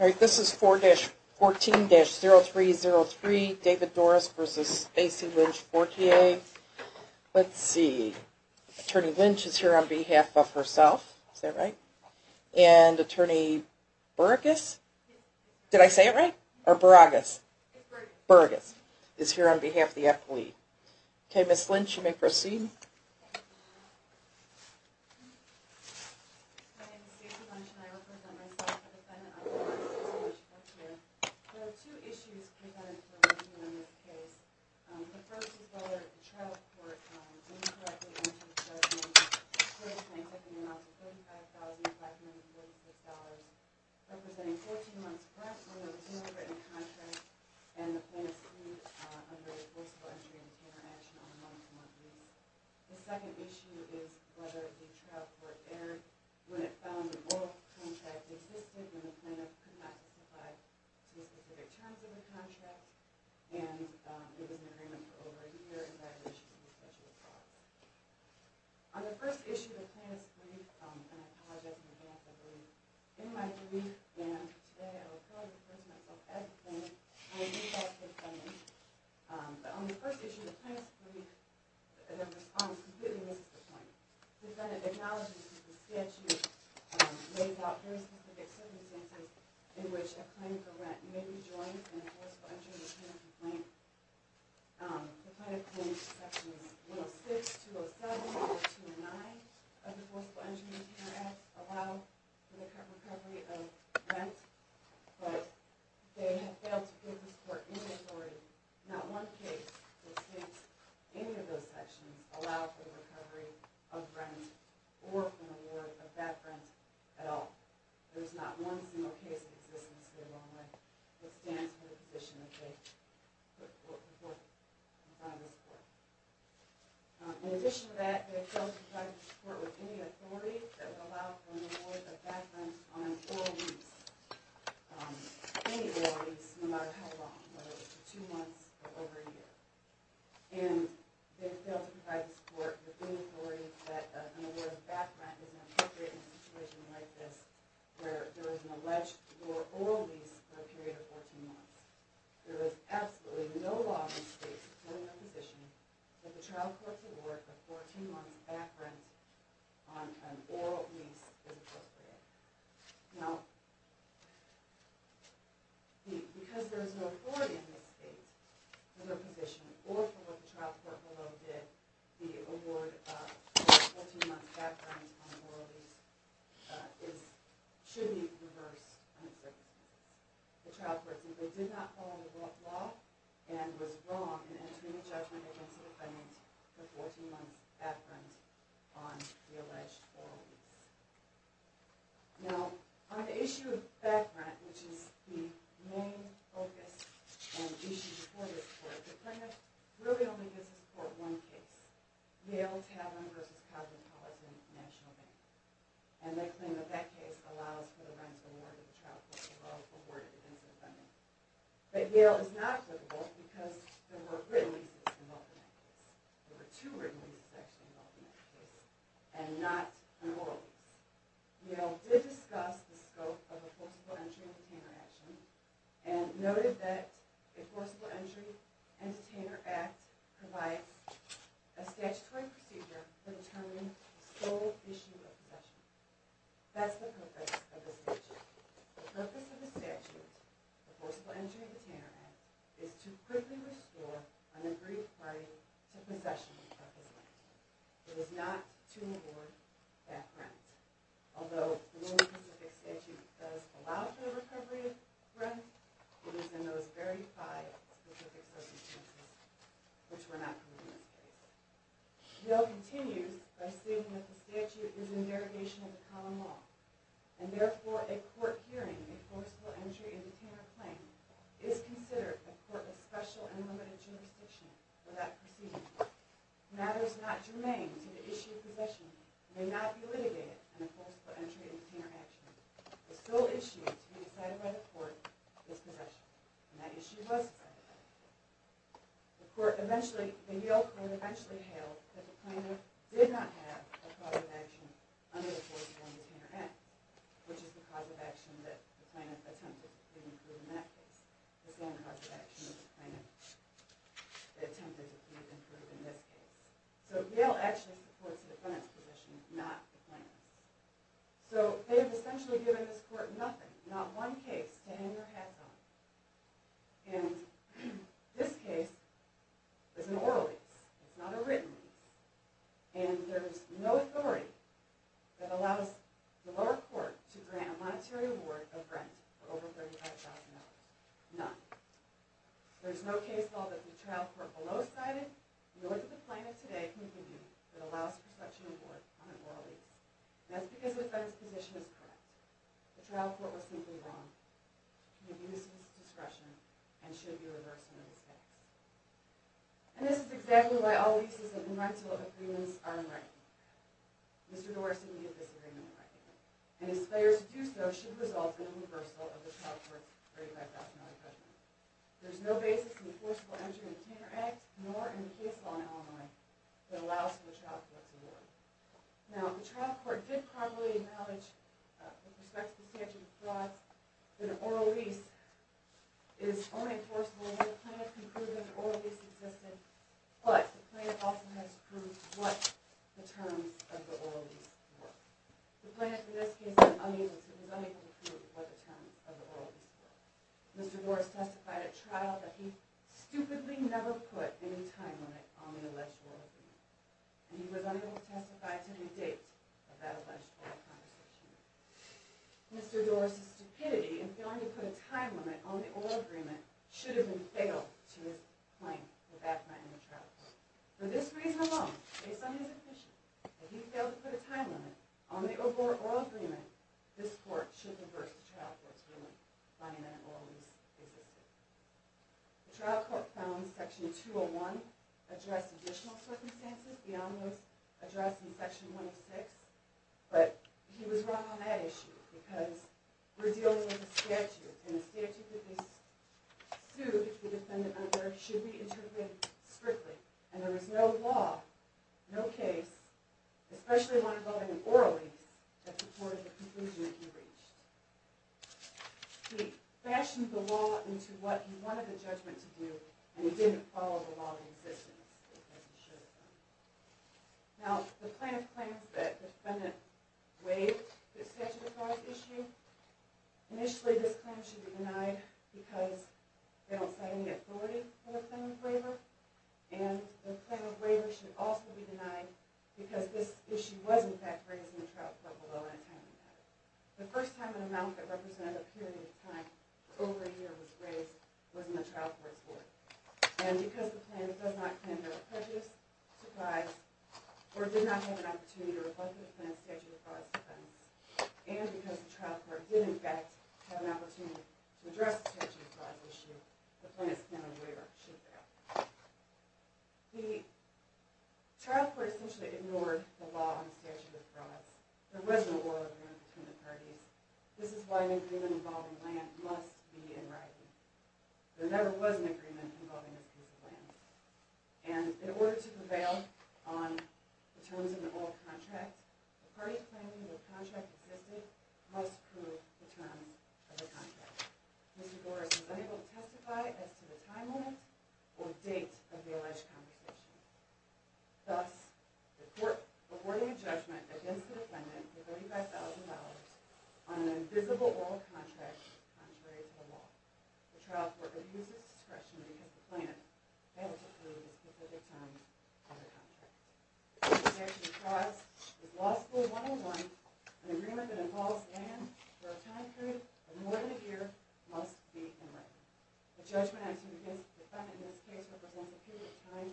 All right, this is 4-14-0303, David Dorris v. Stacey Lynch-Fortier. Let's see, Attorney Lynch is here on behalf of herself, is that right? And Attorney Beragus? Did I say it right? Or Beragus? Beragus is here on behalf of the appellee. Okay, Ms. Lynch, you may proceed. Ms. Lynch-Fortier, there are two issues presented for review in this case. The first is whether the trial court incorrectly entered a judgment for the plaintiff in the amount of $35,545, representing 14 months pressed, whether there was no written contract, and the plaintiff's plea under the enforceable entry and retainer action on a month-to-month lease. The second issue is whether the trial court erred when it found an oral contract existed and the plaintiff could not testify to the specific terms of the contract, and it was an agreement for over a year in violation of the statute of fraud. On the first issue of the plaintiff's plea, and I apologize in advance, I believe, in my plea, and today I will clearly refer to myself as the plaintiff, I do have a defendant, but on the first issue of the plaintiff's plea, the defendant completely misses the point. The defendant acknowledges that the statute lays out very specific circumstances in which a claim for rent may be joined in an enforceable entry and retainer complaint. The plaintiff claims Sections 106, 207, or 209 of the Enforceable Entry and Retainer Act allow for the recovery of rent, but they have failed to give this court any authority. Not one case that states any of those sections allow for the recovery of rent or for the reward of that rent at all. There is not one single case in existence that stands for the position that they put forth in front of this court. In addition to that, they have failed to provide this court with any authority that would allow for the reward of that rent on an oral lease. Any oral lease, no matter how long, whether it's for two months or over a year. And they have failed to provide this court with any authority that an award of back rent is appropriate in a situation like this, where there is an alleged oral lease for a period of 14 months. There is absolutely no law in this case, no proposition, that the trial court's award Now, because there is no authority in this case, no proposition, or for what the trial court below did, the award of 14 months back rent on an oral lease should be reversed on its recognition. The trial court simply did not follow the law and was wrong in entering a judgment against for 14 months back rent on the alleged oral lease. Now, on the issue of back rent, which is the main focus and issue before this court, the plaintiff really only gives this court one case. Yale Tavern v. Cosmopolitan National Bank. And they claim that that case allows for the rent award of the trial court below, awarded against the defendant. But Yale is not applicable because there were written leases involved in that case. There were two written leases actually involved in that case, and not an oral lease. Yale did discuss the scope of a forcible entry and detainer action, and noted that a forcible entry and detainer act provides a statutory procedure for determining the sole issue of possession. That's the purpose of this statute. The purpose of the statute, the forcible entry and detainer act, is to quickly restore an aggrieved party to possession of the purpose land. It is not to award back rent. Although the Northern Pacific Statute does allow for the recovery of rent, it is in those very five specific circumstances which were not permitted in this case. Yale continues by stating that the statute is in derogation of the common law, and therefore a court hearing a forcible entry and detainer claim is considered a court of special and limited jurisdiction for that proceeding. Matters not germane to the issue of possession may not be litigated in a forcible entry and detainer action. The sole issue to be decided by the court is possession, and that issue was decided by the court. The Yale court eventually hailed that the plaintiff did not have a cause of action under the forcible entry and detainer act, which is the cause of action that the plaintiff attempted to prove in that case. The same cause of action that the plaintiff attempted to prove in this case. So Yale actually supports the defendant's position, not the plaintiff's. So they have essentially given this court nothing, not one case to hang their hats on. And this case is an oral lease. It's not a written lease. And there's no authority that allows the lower court to grant a monetary award of rent for over $35,000. None. There's no case law that the trial court below cited, nor did the plaintiff today, can give you that allows for such an award on an oral lease. And that's because the defendant's position is correct. The trial court was simply wrong. It abuses discretion and should be reversed in this case. And this is exactly why all leases and unrightable agreements are unrightable. Mr. Norris and me disagree on the argument. And his failure to do so should result in a reversal of the trial court's $35,000 judgment. There's no basis in the forcible entry and detainer act, nor in the case law in Illinois, that allows for the trial court to award. Now, the trial court did probably acknowledge, with respect to the statute of frauds, that an oral lease is only forcible if the plaintiff can prove that an oral lease existed, but the plaintiff also has to prove what the terms of the oral lease were. The plaintiff, in this case, was unable to prove what the terms of the oral lease were. Mr. Norris testified at trial that he stupidly never put any time limit on the alleged oral agreement. And he was unable to testify to the date of that alleged oral conversation. Mr. Norris's stupidity in failing to put a time limit on the oral agreement should have been fatal to his claim that that might not have been a trial court. For this reason alone, based on his efficiency, that he failed to put a time limit on the oral agreement, this court should reverse the trial court's ruling, finding that an oral lease existed. The trial court found Section 201 addressed additional circumstances. The ominous addressed in Section 106. But he was wrong on that issue, because we're dealing with a statute, and the statute that they sued the defendant under should be interpreted strictly. And there was no law, no case, especially one involving an oral lease, that supported the conclusion that he reached. He fashioned the law into what he wanted the judgment to do, and he didn't follow the law in existence, as he should have done. Now, the plaintiff claims that the defendant waived the statutory issue. Initially, this claim should be denied because they don't set any authority for the claim of waiver. And the claim of waiver should also be denied because this issue was, in fact, raised in the trial court below on a time limit. The first time an amount that represented a period of time over a year was raised was in the trial court's work. And because the plaintiff does not claim to have a prejudice, surprise, or did not have an opportunity to reflect the defendant's statute of frauds defense, and because the trial court did, in fact, have an opportunity to address the statute of frauds issue, the plaintiff's claim of waiver should fail. The trial court essentially ignored the law on the statute of frauds. There was no oral agreement between the parties. This is why an agreement involving land must be in writing. There never was an agreement involving a piece of land. And in order to prevail on the terms of the oral contract, the party claiming the contract existed must prove the terms of the contract. Mr. Doris was unable to testify as to the time limit or date of the alleged conversation. Thus, the court awarded a judgment against the defendant for $35,000 on an invisible oral contract contrary to the law. The trial court abused its discretion because the plaintiff failed to prove the specific terms of the contract. The statute of frauds is law school 101, an agreement that involves land for a time period of more than a year must be in writing. The judgment against the defendant in this case represents a period of time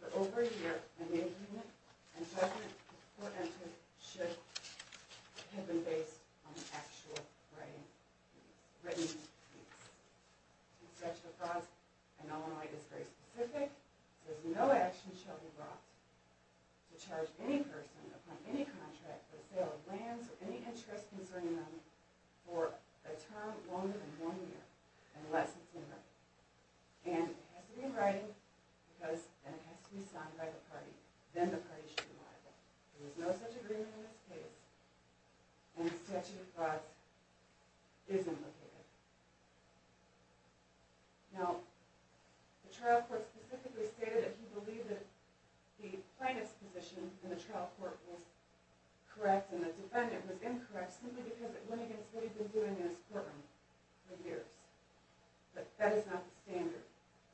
for over a year, a name agreement, and judgment before entry should have been based on an actual written piece. The statute of frauds in Illinois is very specific. There is no action shall be brought to charge any person upon any contract for the sale of lands or any interest concerning them for a term longer than one year, unless it's in writing. And it has to be in writing, and it has to be signed by the party. Then the party should be liable. There is no such agreement in this case. And the statute of frauds isn't located. Now, the trial court specifically stated that he believed that the plaintiff's position in the trial court was correct and the defendant was incorrect simply because it went against what he'd been doing in his courtroom for years. But that is not the standard.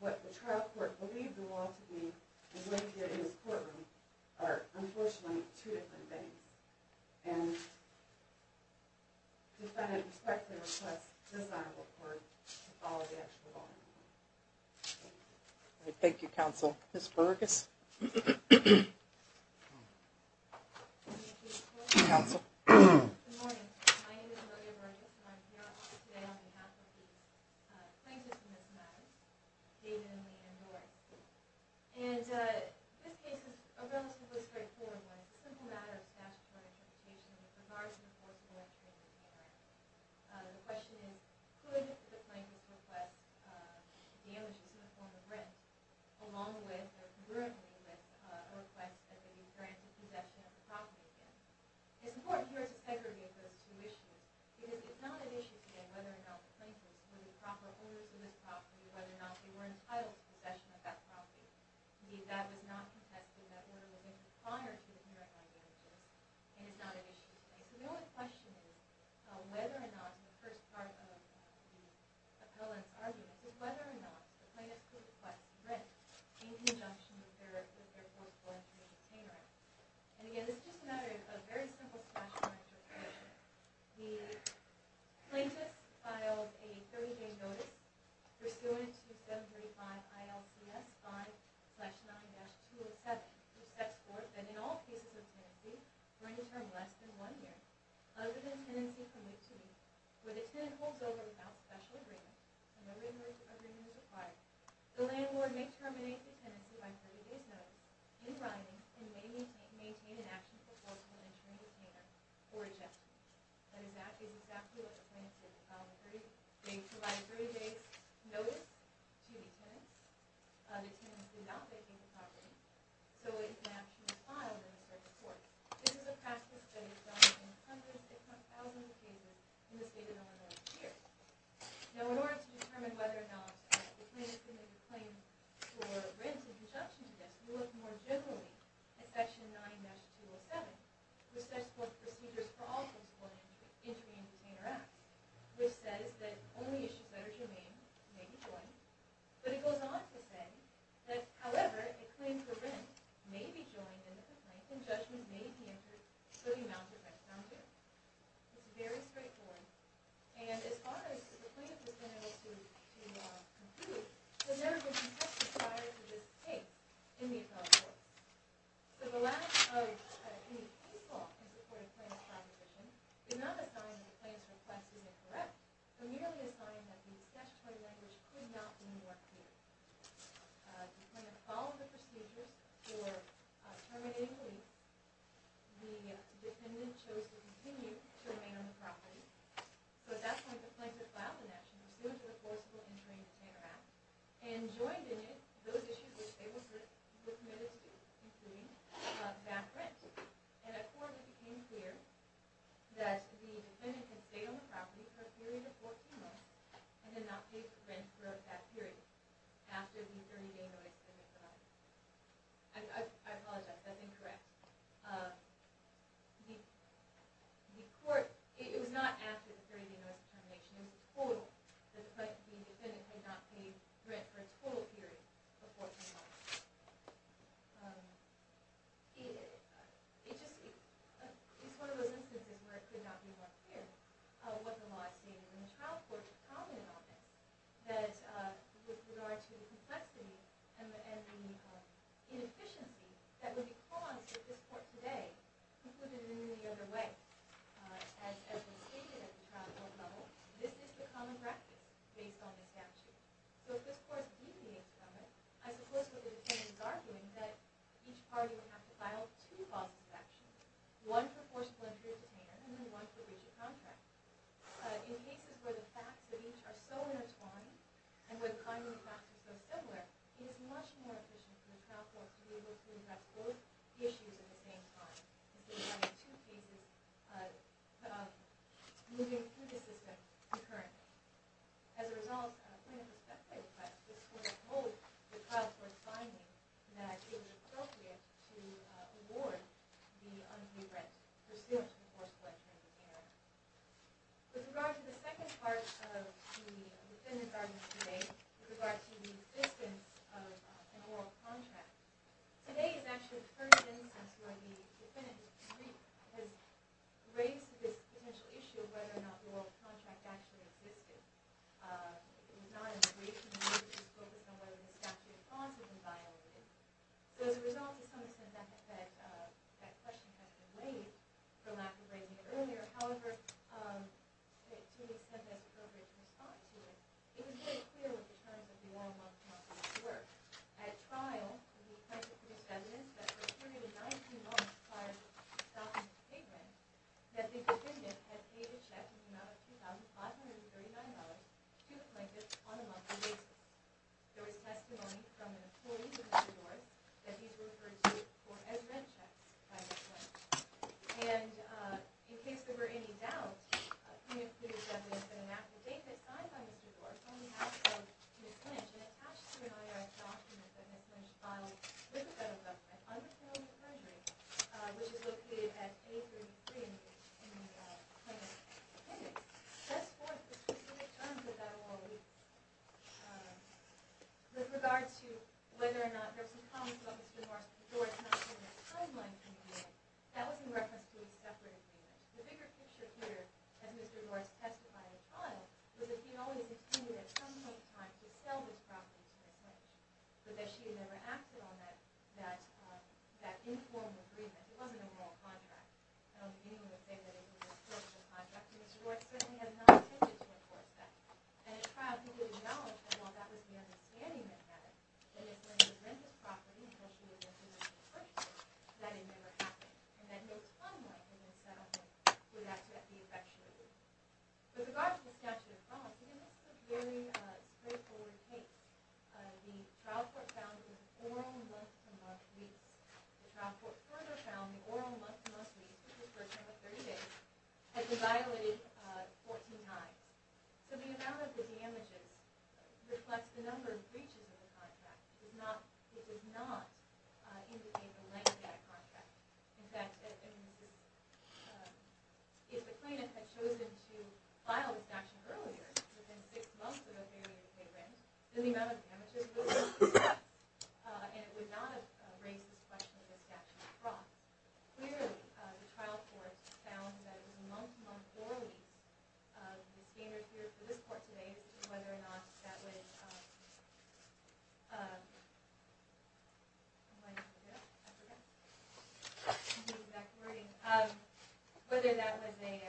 What the trial court believed the law to be and what he did in his courtroom are, unfortunately, two different things. And the defendant respectfully requests this honorable court to follow the actual law. Thank you, counsel. Ms. Burgess. Counsel. Good morning. My name is Maria Burgess, and I'm here today on behalf of the plaintiffs in this matter, David, Emily, and Rory. And this case is a relatively straightforward one. It's a simple matter of statutory interpretation with regards to the force of election in this area. The question is, could the plaintiff request damages in the form of rent along with or congruently with a request that they be granted possession of the property again? It's important here to segregate those two issues because it's not an issue today whether or not the plaintiffs were the proper owners of this property or whether or not they were entitled to possession of that property. Indeed, that was not contested. That order was issued prior to the hearing on damages, and it's not an issue today. So the only question is whether or not the first part of the appellant's argument is whether or not the plaintiffs could request rent in conjunction with their force of election retainer. And, again, this is just a matter of a very simple statutory interpretation. The plaintiffs filed a 30-day notice pursuant to 735 ILCS 5-9-207, which sets forth that in all cases of tenancy, for any term less than one year, other than tenancy from mid-to-late, where the tenant holds over without special agreement, and no reimbursement agreement is required, the landlord may terminate the tenancy by 30 days notice in writing and may maintain an action proposal in assuring the retainer for adjustment. And that is exactly what the plaintiffs did. They provided a 30-day notice to the tenant. The tenant did not vacate the property, so an action was filed in the circuit court. This is a practice that is done in hundreds if not thousands of cases in the state of Illinois each year. Now, in order to determine whether or not the plaintiffs could make a claim for rent in conjunction with this, we look more generally at Section 9-207, which sets forth procedures for all post-court injury and retainer acts, which says that only issues that are germane may be joined. But it goes on to say that, however, a claim for rent may be joined in the complaint, and judgment may be entered for the amount of rent found there. It's very straightforward. And as far as the plaintiff is going to be able to conclude, there has never been such a desire to just take in the appellate court. So the lack of any case law in support of plaintiff's proposition is not a sign that the plaintiff's request is incorrect, but merely a sign that the statutory language could not be more clear. The plaintiff followed the procedures. Terminating the lease, the defendant chose to continue to remain on the property. So at that point, the plaintiff filed the National Procedure for Forcible Injury and Retainer Act and joined in it those issues which they were committed to, including back rent. And at court, it became clear that the defendant could stay on the property for a period of 14 months and then not pay for rent throughout that period after the 30-day notice of termination. I apologize, that's incorrect. It was not after the 30-day notice of termination. It was total. The defendant had not paid rent for a total period of 14 months. It's one of those instances where it could not be more clear what the law stated. And the trial court was prominent on it with regard to the complexity and the inefficiency that would be caused if this court today concluded it in any other way. As was stated at the trial court level, this is the common practice based on the statute. So if this court deviates from it, I suppose what the defendant is arguing is that each party would have to file two causes of action, one for forcible injury or detainer and then one for breach of contract. In cases where the facts of each are so intertwined and where the common practice is so similar, it is much more efficient for the trial court to be able to address both issues at the same time rather than having two cases moving through the system concurrently. As a result, from a perspective of this court's role, the trial court's finding that it was appropriate to award the unpaid rent for sale to the forcible injury detainer. With regard to the second part of the defendant's argument today, with regard to the existence of an oral contract, today is actually the first instance where the defendant has raised this potential issue of whether or not the oral contract actually existed. It was not in the creation of this book as to whether the statute of clause had been violated. So as a result, to some extent, that question has been weighed for lack of raising it earlier. However, to an extent, that's appropriate to respond to it. It was very clear with the terms of the oral contract in this work. At trial, the plaintiff produced evidence that for a period of 19 months prior to stopping the payment, that the defendant had paid a check in the amount of $2,539 to the plaintiff on a monthly basis. There was testimony from an employee of Mr. Doar's that these were referred to as rent checks by the plaintiff. And in case there were any doubts, the plaintiff produced evidence in an affidavit signed by Mr. Doar on behalf of Ms. Lynch and attached to an IRS document that Ms. Lynch filed with the federal government which is located at page 33 in the plaintiff's affidavit. Thus forth, the specific terms of that oral agreement, with regard to whether or not there were some comments about Mr. Doar's not being in the timeline for the agreement, that was in reference to a separate agreement. The bigger picture here, as Mr. Doar testified at trial, was that he had always intended at some point in time to sell this property to Ms. Lynch, but that she had never acted on that informal agreement. It wasn't a moral contract. I don't believe anyone would say that it was a spiritual contract. Mr. Doar certainly had not intended to enforce that. At trial, he did acknowledge that while that was the understanding that he had, that if Ms. Lynch would rent this property until she would have been able to purchase it, that it never happened. And that no timeline had been set up for that to be effectuated. With regard to the statute of promises, it is a very straightforward case. The trial court found the oral month-to-month lease. The trial court further found the oral month-to-month lease, which is for a term of 30 days, has been violated 14 times. So the amount of the damages reflects the number of breaches of the contract. In fact, if the plaintiff had chosen to file the statute earlier, within six months of a 30-day rent, then the amount of damages would have been set, and it would not have raised this question of the statute of promises. Clearly, the trial court found that it was a month-to-month lease. The standard here for this court today is to see whether or not that was a... Whether that was a...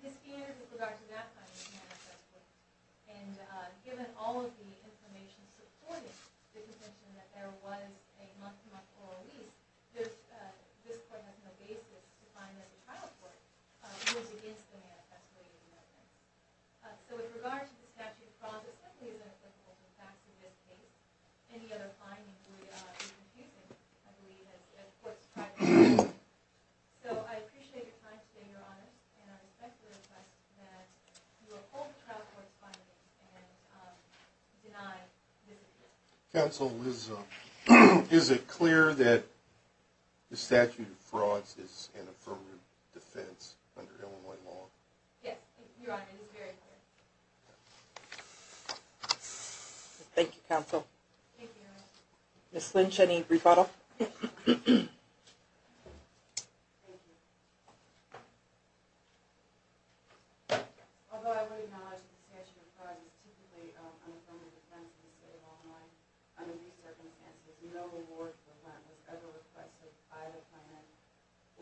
This standard, with regard to that finding, cannot be assessed with. And given all of the information supporting the contention that there was a month-to-month oral lease, this court has no basis to find that the trial court was against the manifest way of the amendment. So with regard to the statute of promises, that leaves it applicable. In fact, in this case, any other findings would be confusing. So I appreciate your time today, Your Honor, and I respectfully request that you uphold the trial court's findings and deny this appeal. Counsel, is it clear that the statute of frauds is an affirmative defense under Illinois law? Yes, Your Honor, it is very clear. Thank you, Counsel. Thank you, Your Honor. Ms. Lynch, any rebuttal? Thank you. Although I would acknowledge that the statute of frauds is typically an affirmative defense in the state of Illinois, under these circumstances, no award for rent was ever requested by the plaintiff,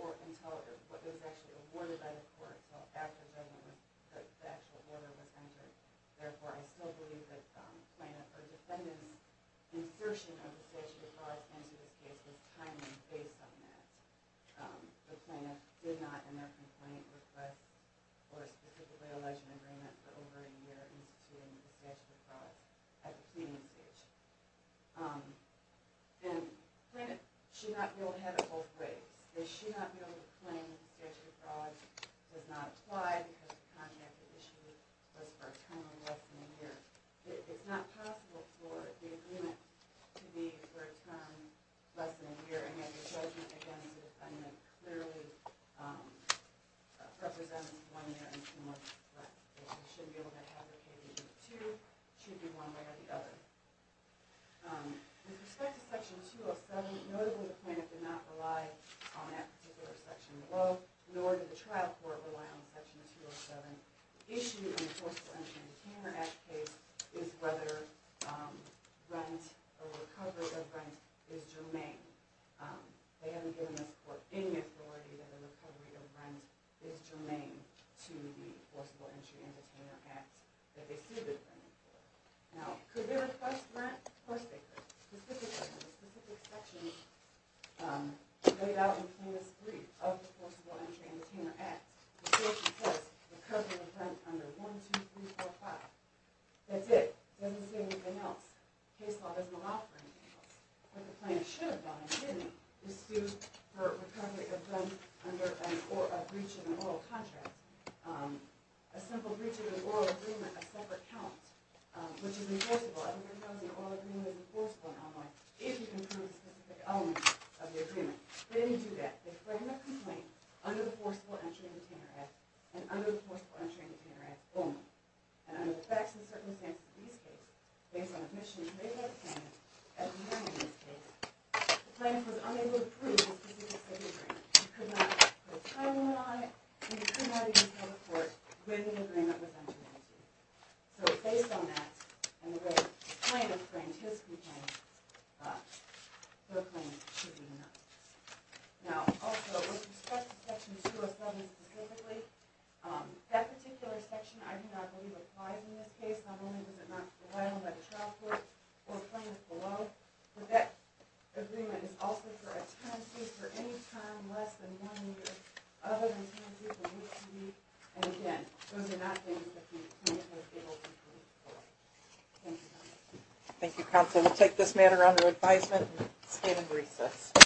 or until it was actually awarded by the court, until after the actual order was entered. Therefore, I still believe that the defendant's insertion of the statute of frauds into this case was timely based on that. The plaintiff did not, in their complaint, request or specifically allege an agreement for over a year instituting the statute of frauds at the pleading stage. And plaintiffs should not be able to have it both ways. They should not be able to claim that the statute of frauds does not apply because the contract that issued was for a term of less than a year. It's not possible for the agreement to be for a term less than a year, and yet the judgment against the defendant clearly represents one year and some more rent. They should be able to have their case either two, it should be one way or the other. With respect to Section 207, notably the plaintiff did not rely on that particular section below, nor did the trial court rely on Section 207. The issue in the Forcible Entry and Detainment Act case is whether rent or recovery of rent is germane. They haven't given this court any authority that the recovery of rent is germane to the Forcible Entry and Detainment Act that they sued the defendant for. Now, could they request rent? Of course they could. The specific section laid out in plaintiff's brief of the Forcible Entry and Detainment Act, the section says recovery of rent under 1, 2, 3, 4, 5. That's it. It doesn't say anything else. Case law doesn't allow for anything else. What the plaintiff should have done and shouldn't have is sued for recovery of rent under a breach of an oral contract. A simple breach of an oral agreement, a separate count, which is enforceable. Other than those, an oral agreement is enforceable in Illinois if you confirm a specific element of the agreement. They didn't do that. They framed a complaint under the Forcible Entry and Detainment Act and under the Forcible Entry and Detainment Act only. And under the facts and circumstances of these cases, based on admissions laid out at the time of this case, the plaintiff was unable to prove the specifics of the agreement. You could not put a title on it, and you could not even tell the court when the agreement was entered into. So based on that, and the way the plaintiff framed his complaint, their claim should be announced. Now, also, with respect to Section 207 specifically, that particular section I do not believe applies in this case. Not only was it not filed by the child court or plaintiff below, but that agreement is also for a tenancy for any time less than one year, other than tenancy for HPV. And again, those are not things that the plaintiff was able to prove. Thank you, counsel. Thank you, counsel. We'll take this matter under advisement and stand in recess.